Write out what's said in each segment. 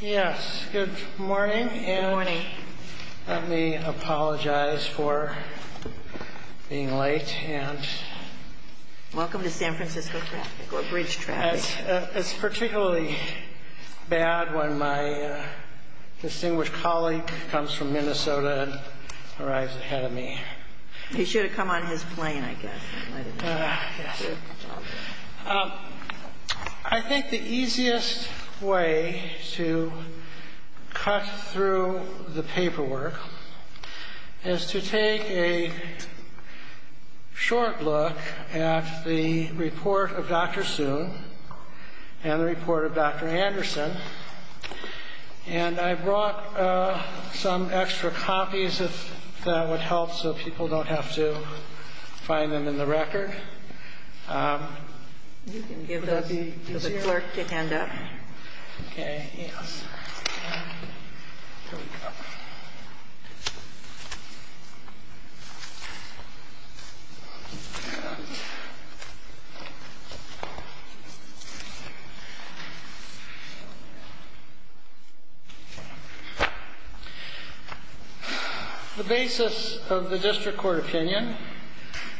Yes, good morning. Good morning. Let me apologize for being late. Welcome to San Francisco traffic, or bridge traffic. It's particularly bad when my distinguished colleague comes from Minnesota and arrives ahead of me. He should have come on his plane, I guess. I think the easiest way to cut through the paperwork is to take a short look at the report of Dr. Soon and the report of Dr. Anderson. And I brought some extra copies, if that would help, so people don't have to find them in the record. You can give those to the clerk to hand up. Okay. Here we go. The basis of the district court opinion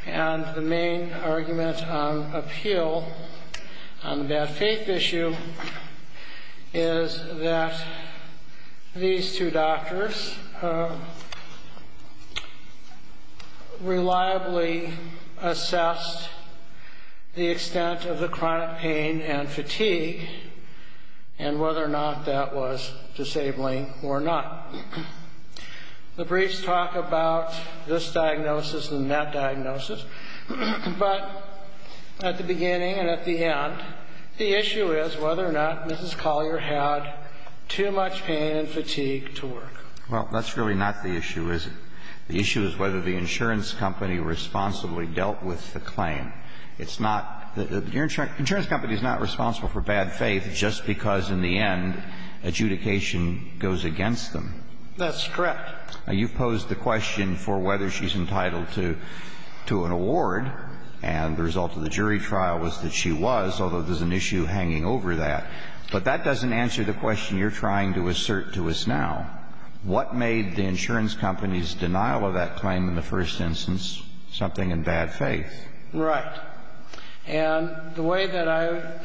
and the main argument on appeal on that faith issue is that these two doctors reliably assessed the extent of the chronic pain and fatigue and whether or not that was disabling or not. The briefs talk about this diagnosis and that diagnosis, but at the beginning and at the end, the issue is whether or not Mrs. Collier had too much pain and fatigue to work. Well, that's really not the issue, is it? The issue is whether the insurance company responsibly dealt with the claim. It's not the insurance company is not responsible for bad faith just because in the end adjudication goes against them. That's correct. You've posed the question for whether she's entitled to an award, and the result of the jury trial was that she was, although there's an issue hanging over that. But that doesn't answer the question you're trying to assert to us now. What made the insurance company's denial of that claim in the first instance something in bad faith? Right. And the way that I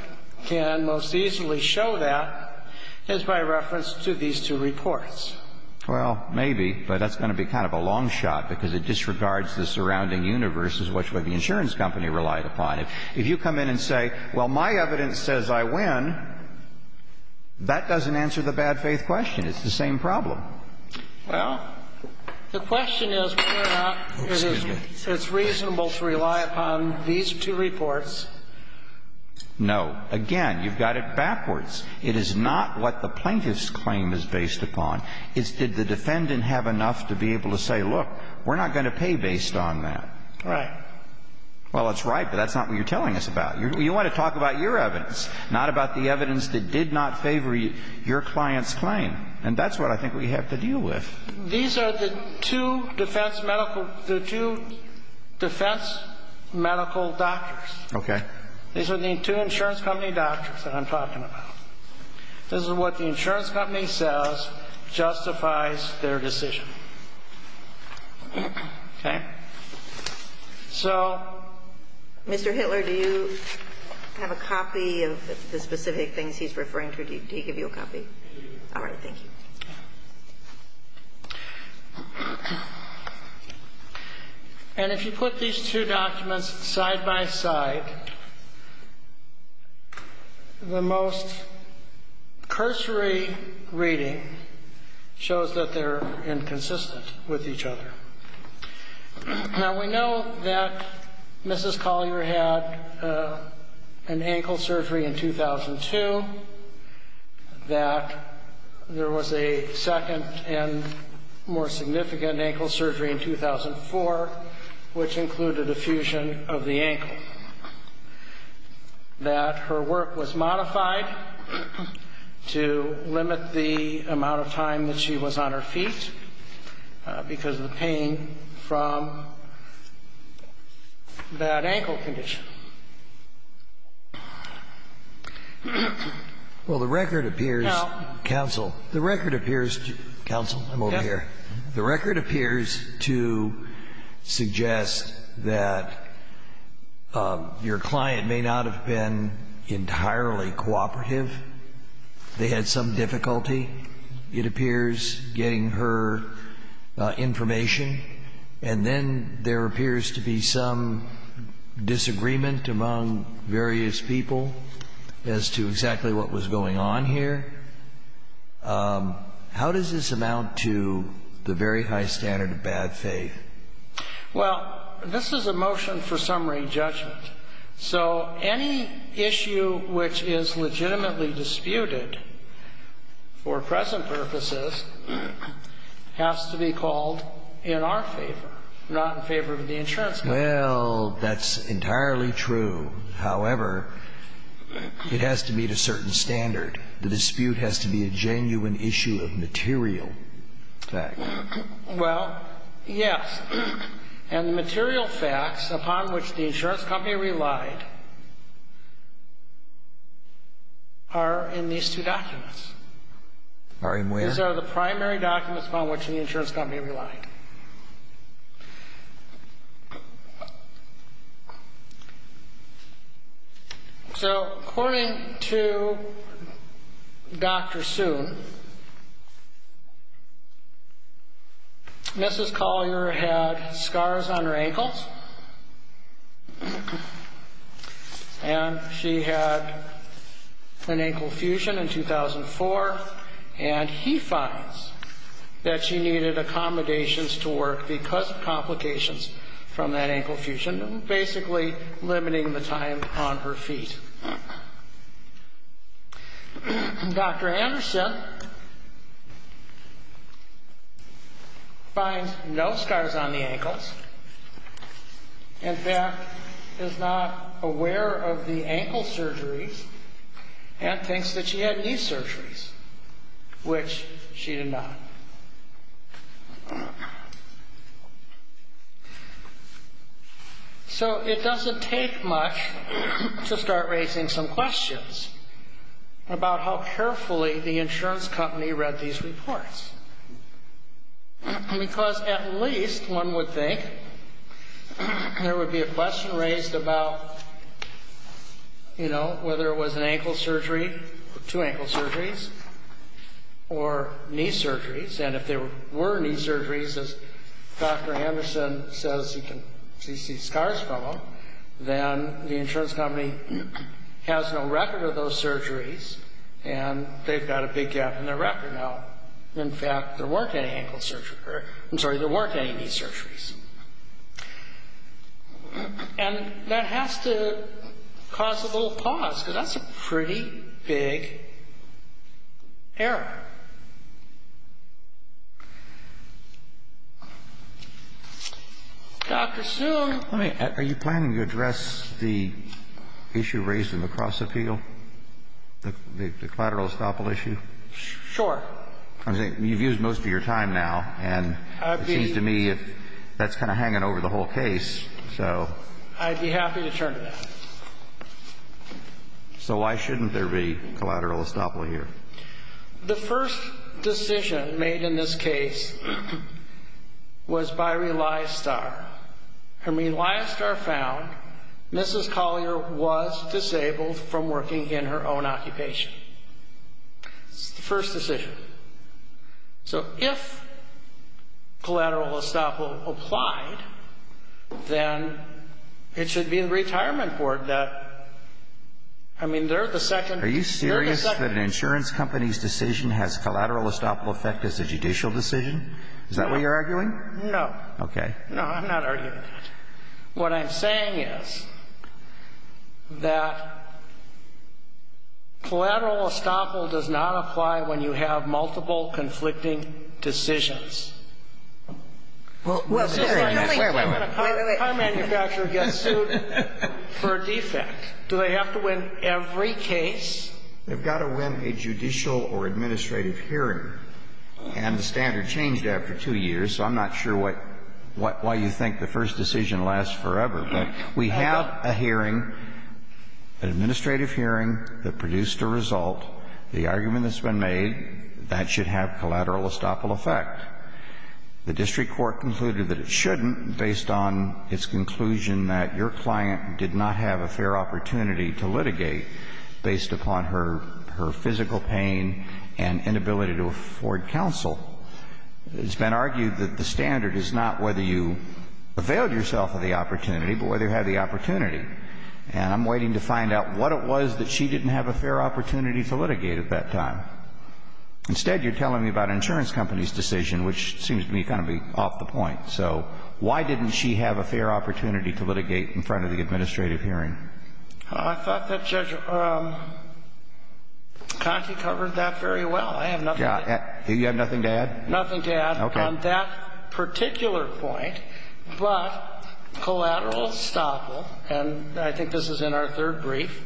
can most easily show that is by reference to these two reports. Well, maybe, but that's going to be kind of a long shot because it disregards the surrounding universe as what the insurance company relied upon. If you come in and say, well, my evidence says I win, that doesn't answer the bad faith question. It's the same problem. Well, the question is whether or not it's reasonable to rely upon these two reports. No. Again, you've got it backwards. It's not what the plaintiff's claim is based upon. It's did the defendant have enough to be able to say, look, we're not going to pay based on that. Right. Well, that's right, but that's not what you're telling us about. You want to talk about your evidence, not about the evidence that did not favor your client's claim. And that's what I think we have to deal with. These are the two defense medical – the two defense medical doctors. Okay. These are the two insurance company doctors that I'm talking about. This is what the insurance company says justifies their decision. Okay. So – Mr. Hitler, do you have a copy of the specific things he's referring to? Did he give you a copy? All right. Thank you. Okay. And if you put these two documents side by side, the most cursory reading shows that they're inconsistent with each other. Now, we know that Mrs. Collier had an ankle surgery in 2002, that there was a second and more significant ankle surgery in 2004, which included a fusion of the ankle, that her work was modified to limit the amount of time that she was on her feet because of the pain from that ankle condition. Well, the record appears – Now – Counsel, the record appears – Counsel, I'm over here. Yes. The record appears to suggest that your client may not have been entirely cooperative. They had some difficulty, it appears, getting her information, and then there appears to be some disagreement among various people as to exactly what was going on here. How does this amount to the very high standard of bad faith? Well, this is a motion for summary judgment. So any issue which is legitimately disputed for present purposes has to be called in our favor, not in favor of the insurance company. Well, that's entirely true. However, it has to meet a certain standard. The dispute has to be a genuine issue of material fact. Well, yes. And the material facts upon which the insurance company relied are in these two documents. Are in where? These are the primary documents upon which the insurance company relied. So, according to Dr. Soon, Mrs. Collier had scars on her ankles, and she had an ankle fusion in 2004, and he finds that she needed accommodations to work because of complications from that ankle fusion, basically limiting the time on her feet. Dr. Anderson finds no scars on the ankles, in fact, is not aware of the ankle surgeries, and thinks that she had knee surgeries, which she did not. So it doesn't take much to start raising some questions about how carefully the insurance company read these reports. Because at least one would think there would be a question raised about, you know, whether it was an ankle surgery, two ankle surgeries, or knee surgeries. And if there were knee surgeries, as Dr. Anderson says he can see scars from them, then the insurance company has no record of those surgeries, and they've got a big gap in their record now. In fact, there weren't any knee surgeries. And that has to cause a little pause, because that's a pretty big error. Dr. Soon. Are you planning to address the issue raised in the cross-appeal, the collateral estoppel issue? Sure. You've used most of your time now, and it seems to me that's kind of hanging over the whole case. I'd be happy to turn to that. So why shouldn't there be collateral estoppel here? The first decision made in this case was by Reliestar. And Reliestar found Mrs. Collier was disabled from working in her own occupation. It's the first decision. So if collateral estoppel applied, then it should be the retirement board that, I mean, they're the second. Are you serious that an insurance company's decision has collateral estoppel effect as a judicial decision? Is that what you're arguing? No. Okay. No, I'm not arguing that. What I'm saying is that collateral estoppel does not apply when you have multiple conflicting decisions. Well, wait, wait, wait. How do manufacturers get sued for a defect? Do they have to win every case? They've got to win a judicial or administrative hearing. And the standard changed after two years. So I'm not sure why you think the first decision lasts forever. But we have a hearing, an administrative hearing that produced a result. The argument that's been made, that should have collateral estoppel effect. The district court concluded that it shouldn't based on its conclusion that your client did not have a fair opportunity to litigate based upon her physical pain and inability to afford counsel. It's been argued that the standard is not whether you availed yourself of the opportunity, but whether you had the opportunity. And I'm waiting to find out what it was that she didn't have a fair opportunity to litigate at that time. Instead, you're telling me about an insurance company's decision, which seems to me kind of off the point. So why didn't she have a fair opportunity to litigate in front of the administrative hearing? I thought that Judge Conte covered that very well. I have nothing to add. You have nothing to add? Nothing to add on that particular point. But collateral estoppel, and I think this is in our third brief,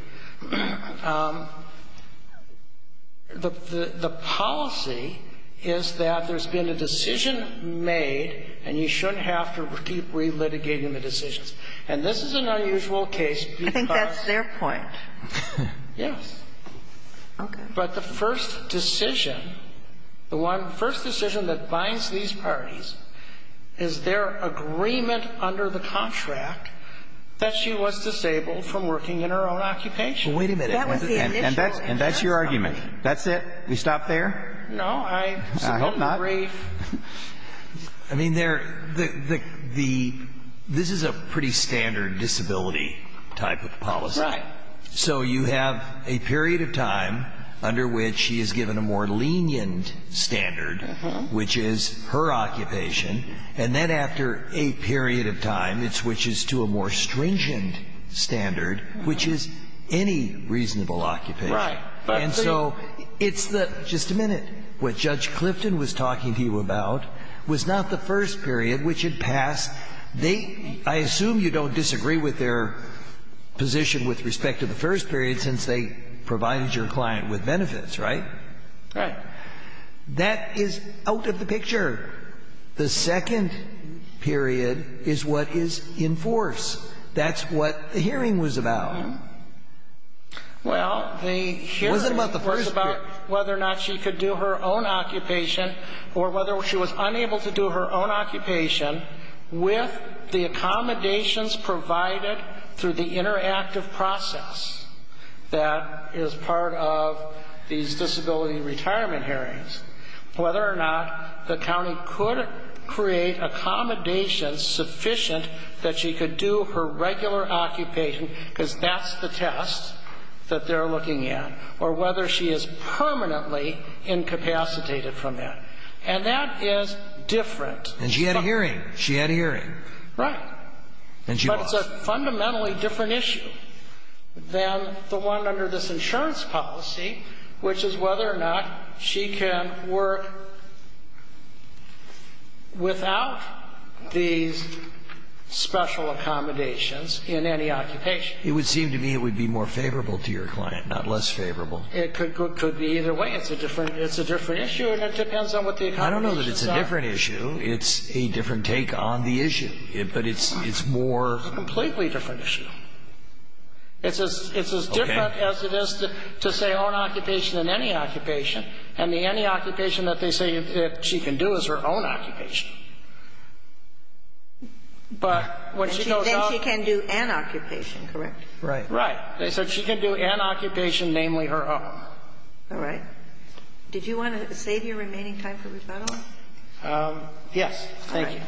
the policy is that there's been a decision made and you shouldn't have to keep relitigating the decisions. And this is an unusual case. I think that's their point. Yes. Okay. But the first decision, the first decision that binds these parties is their agreement under the contract that she was disabled from working in her own occupation. Well, wait a minute. And that's your argument. That's it? We stop there? No. I held my brief. I hope not. I mean, this is a pretty standard disability type of policy. Right. So you have a period of time under which she is given a more lenient standard, which is her occupation, and then after a period of time it switches to a more stringent standard, which is any reasonable occupation. Right. And so it's the – just a minute. What Judge Clifton was talking to you about was not the first period which had passed. I assume you don't disagree with their position with respect to the first period, since they provided your client with benefits, right? Right. That is out of the picture. The second period is what is in force. That's what the hearing was about. Well, the hearing was about whether or not she could do her own occupation or whether she was unable to do her own occupation with the accommodations provided through the interactive process that is part of these disability retirement hearings, whether or not the county could create accommodations sufficient that she could do her regular occupation, because that's the test that they're looking at, or whether she is permanently incapacitated from that. And that is different. And she had a hearing. She had a hearing. Right. And she lost. But it's a fundamentally different issue than the one under this insurance policy, which is whether or not she can work without these special accommodations in any occupation. It would seem to me it would be more favorable to your client, not less favorable. It could be either way. It's a different issue, and it depends on what the accommodations are. I don't know that it's a different issue. It's a different take on the issue. But it's more of a completely different issue. It's as different as it is to say own occupation than any occupation. And the any occupation that they say she can do is her own occupation. Then she can do an occupation, correct? Right. Right. So she can do an occupation, namely her own. All right. Did you want to save your remaining time for rebuttal? Thank you. All right.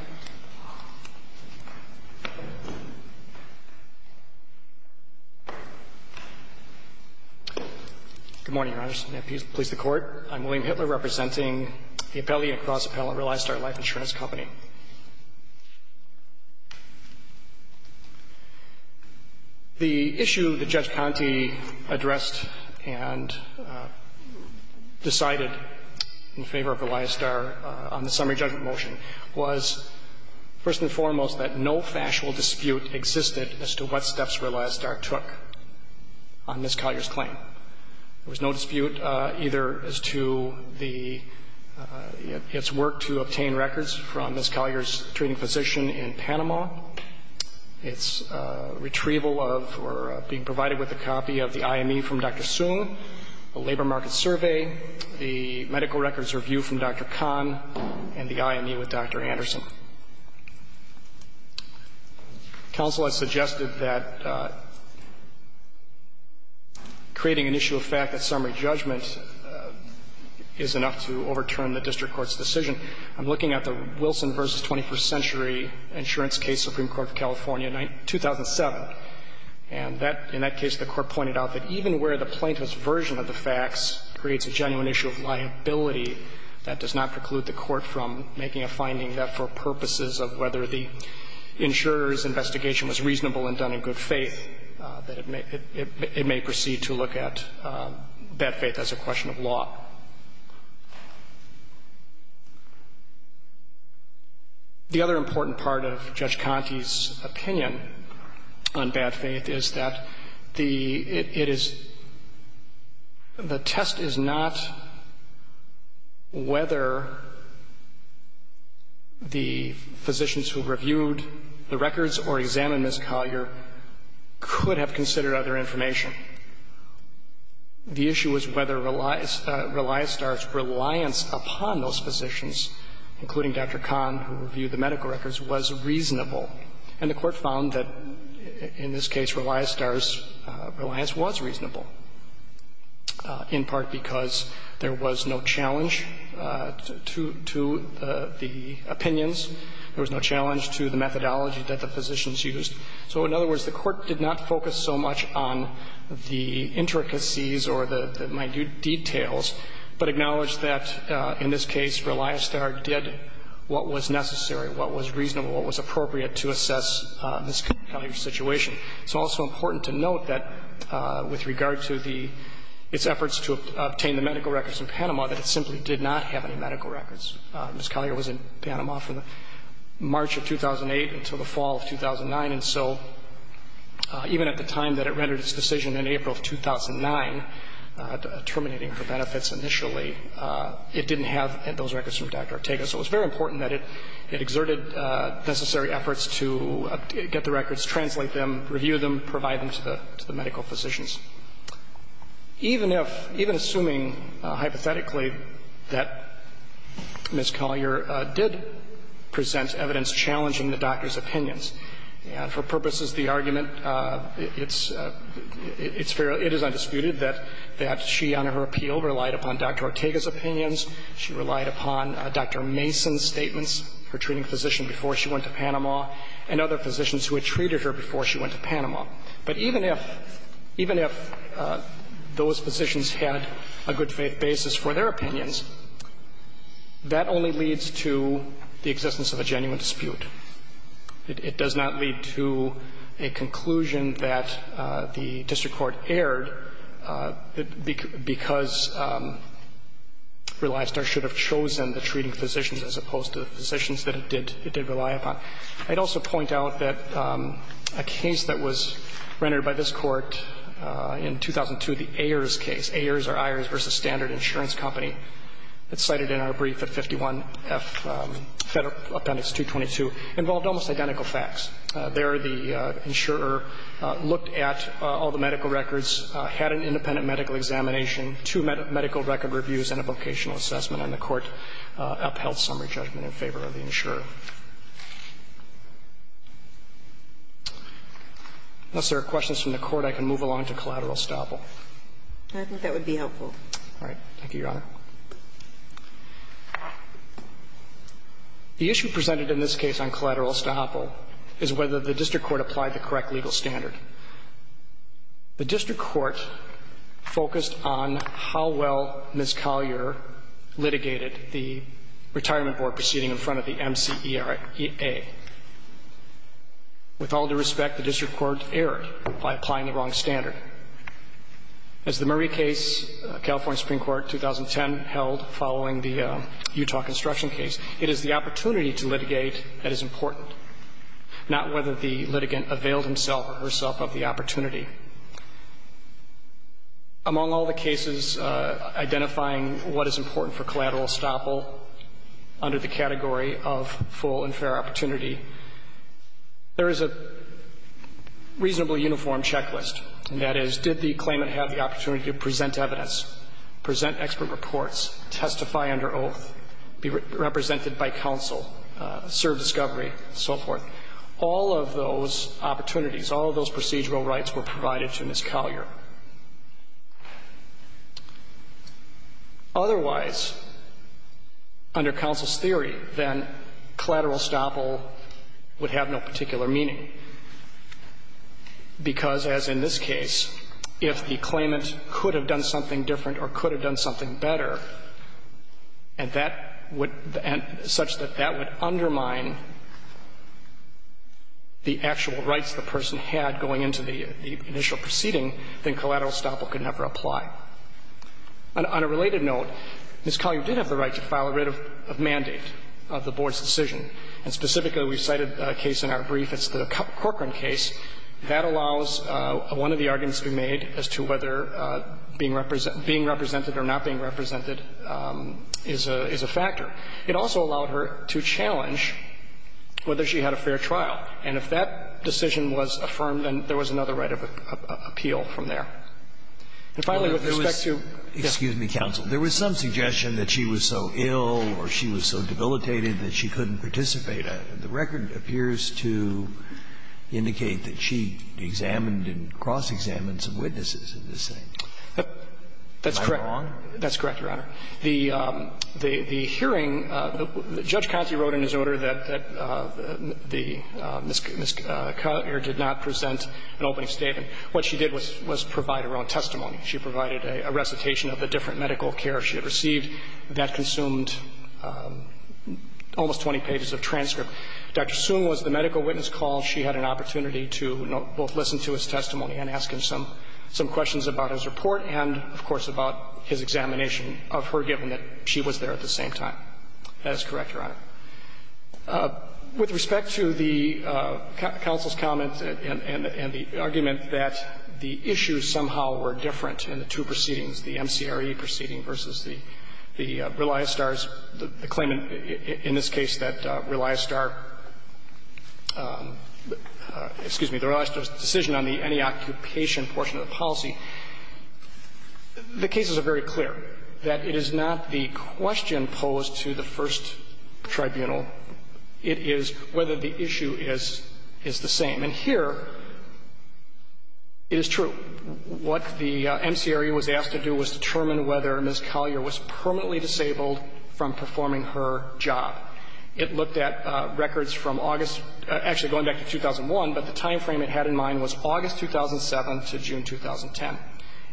Good morning, Your Honor. And may it please the Court. I'm William Hitler representing the Appellee & Cross Appellant, Reliastar Life Insurance Company. The issue that Judge Ponte addressed and decided in favor of Reliastar on the summary judgment motion was, first and foremost, that no factual dispute existed as to what steps Reliastar took on Ms. Collier's claim. There was no dispute either as to the its work to obtain records from Ms. Collier's treating physician in Panama, its retrieval of or being provided with a copy of the IME from Dr. Soong, the labor market survey, the medical records review from Dr. Kahn, and the IME with Dr. Anderson. Counsel has suggested that creating an issue of fact at summary judgment is enough to overturn the district court's decision. I'm looking at the Wilson v. 21st Century Insurance Case, Supreme Court of California, 2007. And that, in that case, the Court pointed out that even where the plaintiff's version of the facts creates a genuine issue of liability, that does not preclude the Court from making a finding that for purposes of whether the insurer's investigation was reasonable and done in good faith, that it may proceed to look at bad faith as a question of law. The other important part of Judge Conte's opinion on bad faith is that the – it could have considered other information. The issue was whether Reliostar's reliance upon those physicians, including Dr. Kahn who reviewed the medical records, was reasonable. And the Court found that, in this case, Reliostar's reliance was reasonable, in part because there was no challenge to the opinions. There was no challenge to the methodology that the physicians used. So, in other words, the Court did not focus so much on the intricacies or the minute details, but acknowledged that, in this case, Reliostar did what was necessary, what was reasonable, what was appropriate to assess this kind of situation. It's also important to note that, with regard to the – its efforts to obtain the medical records in Panama, that it simply did not have any medical records. Ms. Collier was in Panama from March of 2008 until the fall of 2009. And so, even at the time that it rendered its decision in April of 2009, terminating her benefits initially, it didn't have those records from Dr. Ortega. So it was very important that it exerted necessary efforts to get the records, translate them, review them, provide them to the medical physicians. Even if – even assuming, hypothetically, that Ms. Collier did present evidence challenging the doctor's opinions, and for purposes of the argument, it's – it's fair – it is undisputed that she, on her appeal, relied upon Dr. Ortega's opinions. She relied upon Dr. Mason's statements, her treating physician before she went to Panama. But even if – even if those physicians had a good basis for their opinions, that only leads to the existence of a genuine dispute. It does not lead to a conclusion that the district court erred because Relistar should have chosen the treating physicians as opposed to the physicians that it did rely upon. I'd also point out that a case that was rendered by this Court in 2002, the Ayers case, Ayers or Ayers v. Standard Insurance Company, it's cited in our brief at 51F Federal Appendix 222, involved almost identical facts. There, the insurer looked at all the medical records, had an independent medical examination, two medical record reviews and a vocational assessment, and the court upheld summary judgment in favor of the insurer. Unless there are questions from the Court, I can move along to collateral estoppel. I think that would be helpful. All right. Thank you, Your Honor. The issue presented in this case on collateral estoppel is whether the district court applied the correct legal standard. The district court focused on how well Ms. Collier litigated the retirement board proceeding in front of the MCEA. With all due respect, the district court erred by applying the wrong standard. As the Murray case, California Supreme Court, 2010, held following the Utah construction case, it is the opportunity to litigate that is important, not whether the litigant availed himself or herself of the opportunity. Among all the cases identifying what is important for collateral estoppel under the category of full and fair opportunity, there is a reasonably uniform checklist, and that is, did the claimant have the opportunity to present evidence, present expert reports, testify under oath, be represented by counsel, serve discovery, and so forth. All of those opportunities, all of those procedural rights were provided to Ms. Collier. Otherwise, under counsel's theory, then collateral estoppel would have no particular meaning, because, as in this case, if the claimant could have done something different or could have done something better, and that would — such that that would undermine the actual rights the person had going into the initial proceeding, then collateral estoppel could never apply. On a related note, Ms. Collier did have the right to file a writ of mandate of the Board's decision. And specifically, we cited a case in our brief. It's the Corcoran case. That allows one of the arguments to be made as to whether being represented or not being represented is a factor. It also allowed her to challenge whether she had a fair trial. And if that decision was affirmed, then there was another right of appeal from there. And finally, with respect to — Scalia. Excuse me, counsel. There was some suggestion that she was so ill or she was so debilitated that she couldn't participate. The record appears to indicate that she examined and cross-examined some witnesses in this thing. Am I wrong? That's correct. That's correct, Your Honor. The hearing — Judge Conte wrote in his order that Ms. Collier did not present an opening statement. What she did was provide her own testimony. She provided a recitation of the different medical care she had received. That consumed almost 20 pages of transcript. Dr. Soon was the medical witness called. She had an opportunity to both listen to his testimony and ask him some questions about his report and, of course, about his examination of her, given that she was there at the same time. That is correct, Your Honor. With respect to the counsel's comment and the argument that the issues somehow were different in the two proceedings, the MCRE proceeding versus the Reliostar's claimant, in this case that Reliostar — excuse me, the Reliostar's decision on the any occupation portion of the policy, the cases are very clear, that it is not the question posed to the first tribunal. It is whether the issue is the same. And here it is true. What the MCRE was asked to do was determine whether Ms. Collier was permanently disabled from performing her job. It looked at records from August — actually, going back to 2001, but the timeframe it had in mind was August 2007 to June 2010.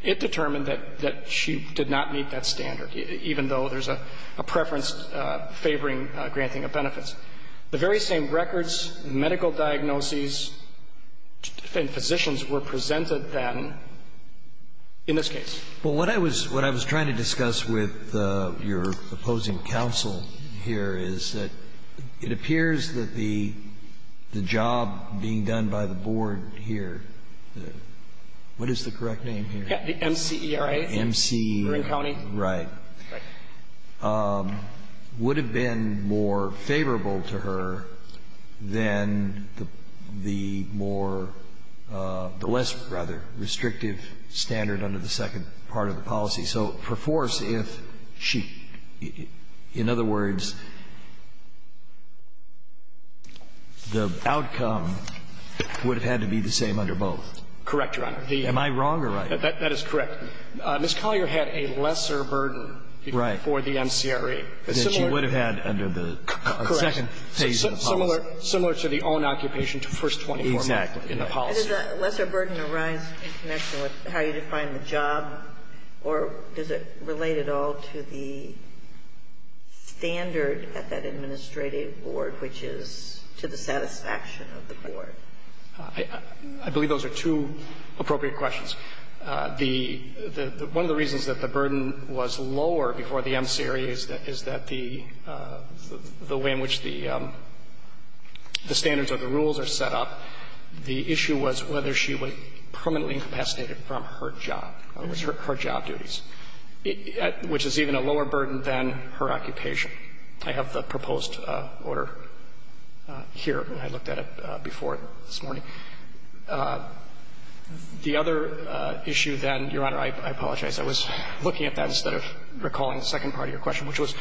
It determined that she did not meet that standard, even though there's a preference favoring granting of benefits. The very same records, medical diagnoses, and positions were presented then in this case. Well, what I was trying to discuss with your opposing counsel here is that it appears that the job being done by the board here, what is the correct name here? MCRE. MC. Marin County. Right. Right. Would have been more favorable to her than the more — the less, rather, restrictive standard under the second part of the policy. So for force, if she — in other words, the outcome would have had to be the same under both. Correct, Your Honor. Am I wrong or right? That is correct. Ms. Collier had a lesser burden for the MCRE. That she would have had under the second phase of the policy. Correct. Similar to the own occupation to first 24 months. In the policy. Does the lesser burden arise in connection with how you define the job, or does it relate at all to the standard at that administrative board, which is to the satisfaction of the board? I believe those are two appropriate questions. The — one of the reasons that the burden was lower before the MCRE is that the way in which the standards or the rules are set up, the issue was whether she was permanently incapacitated from her job, or her job duties, which is even a lower burden than her occupation. I have the proposed order here. I looked at it before this morning. The other issue then — Your Honor, I apologize. I was looking at that instead of recalling the second part of your question, which was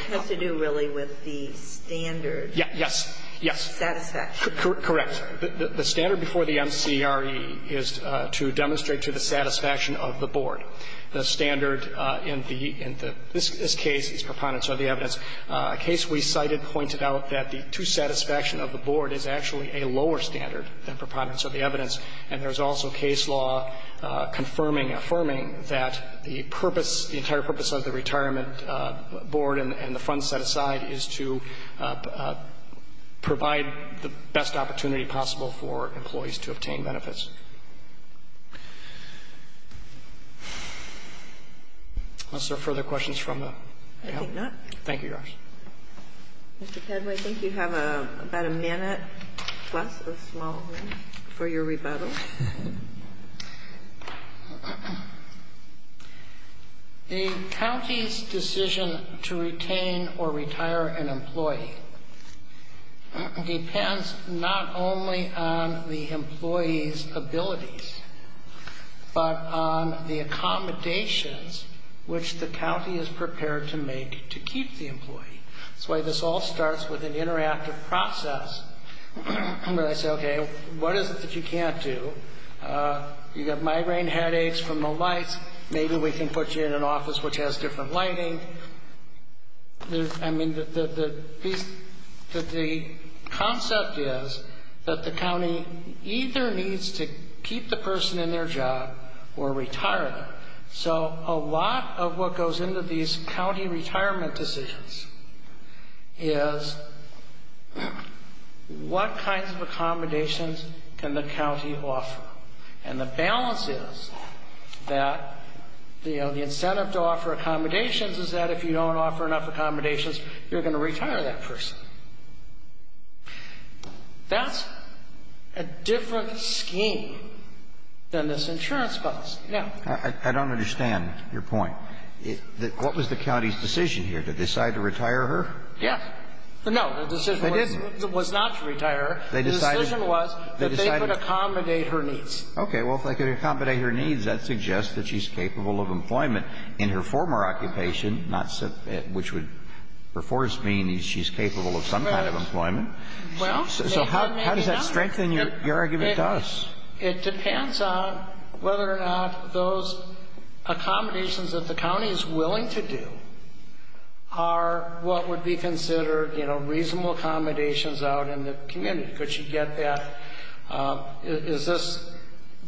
— Yes. Yes. Satisfaction. Correct. The standard before the MCRE is to demonstrate to the satisfaction of the board. The standard in the — in this case is preponderance of the evidence. A case we cited pointed out that the dissatisfaction of the board is actually a lower standard than preponderance of the evidence, and there's also case law confirming and affirming that the purpose, the entire purpose of the retirement board and the funds set aside is to provide the best opportunity possible for employees to obtain benefits. Are there further questions from the panel? I think not. Thank you, Your Honor. Mr. Padway, I think you have about a minute plus of small room for your rebuttal. The county's decision to retain or retire an employee depends not only on the employee's abilities, but on the accommodations which the county is prepared to make to keep the employee. That's why this all starts with an interactive process where they say, okay, what is it that you can't do? You've got migraine headaches from the lights. Maybe we can put you in an office which has different lighting. I mean, the concept is that the county either needs to keep the person in their job or retire them. So a lot of what goes into these county retirement decisions is what kinds of accommodations can the county offer. And the balance is that, you know, the incentive to offer accommodations is that if you don't offer enough accommodations, you're going to retire that person. That's a different scheme than this insurance policy. I don't understand your point. What was the county's decision here? Did they decide to retire her? Yes. No, the decision was not to retire her. The decision was that they could accommodate her needs. Okay. Well, if they could accommodate her needs, that suggests that she's capable of employment in her former occupation, which would, of course, mean she's capable of some kind of employment. Well, they haven't added on. So how does that strengthen your argument to us? It depends on whether or not those accommodations that the county is willing to do are what would be considered, you know, reasonable accommodations out in the community. Could she get that?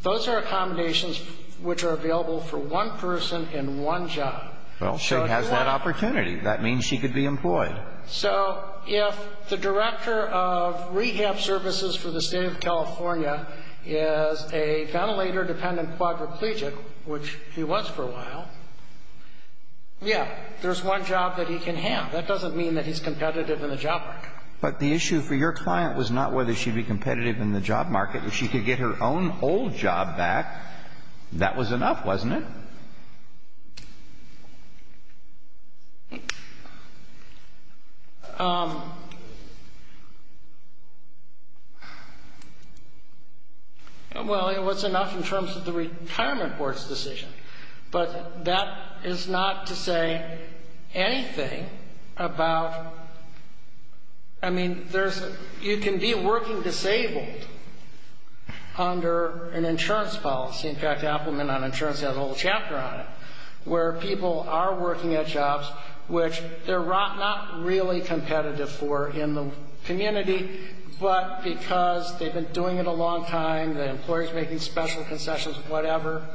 Those are accommodations which are available for one person in one job. Well, she has that opportunity. That means she could be employed. So if the director of rehab services for the State of California is a ventilator-dependent quadriplegic, which he was for a while, yeah, there's one job that he can have. That doesn't mean that he's competitive in the job market. But the issue for your client was not whether she'd be competitive in the job market. If she could get her own old job back, that was enough, wasn't it? Well, it was enough in terms of the retirement board's decision. But that is not to say anything about, I mean, there's, you can be working disabled under an insurance policy. In fact, Applement on Insurance has a whole chapter on it where people are working at jobs which they're not really competitive for in the community, but because they've been doing it a long time, the employer's making special concessions, whatever,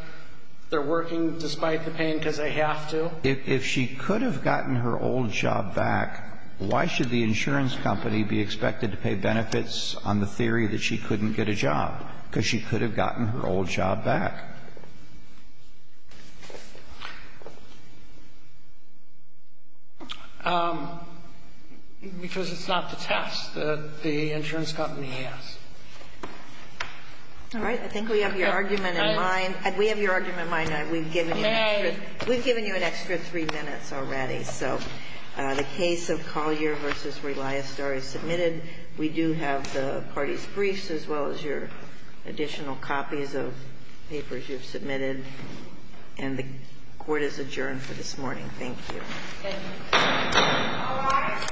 they're working despite the pain because they have to. If she could have gotten her old job back, why should the insurance company be expected to pay benefits on the theory that she couldn't get a job? Because she could have gotten her old job back. Because it's not the test that the insurance company has. All right. I think we have your argument in mind. We have your argument in mind. We've given you an extra three minutes already. We do have the party's briefs as well as your additional copies of papers you've submitted. And the court is adjourned for this morning. Thank you. Thank you. All rise.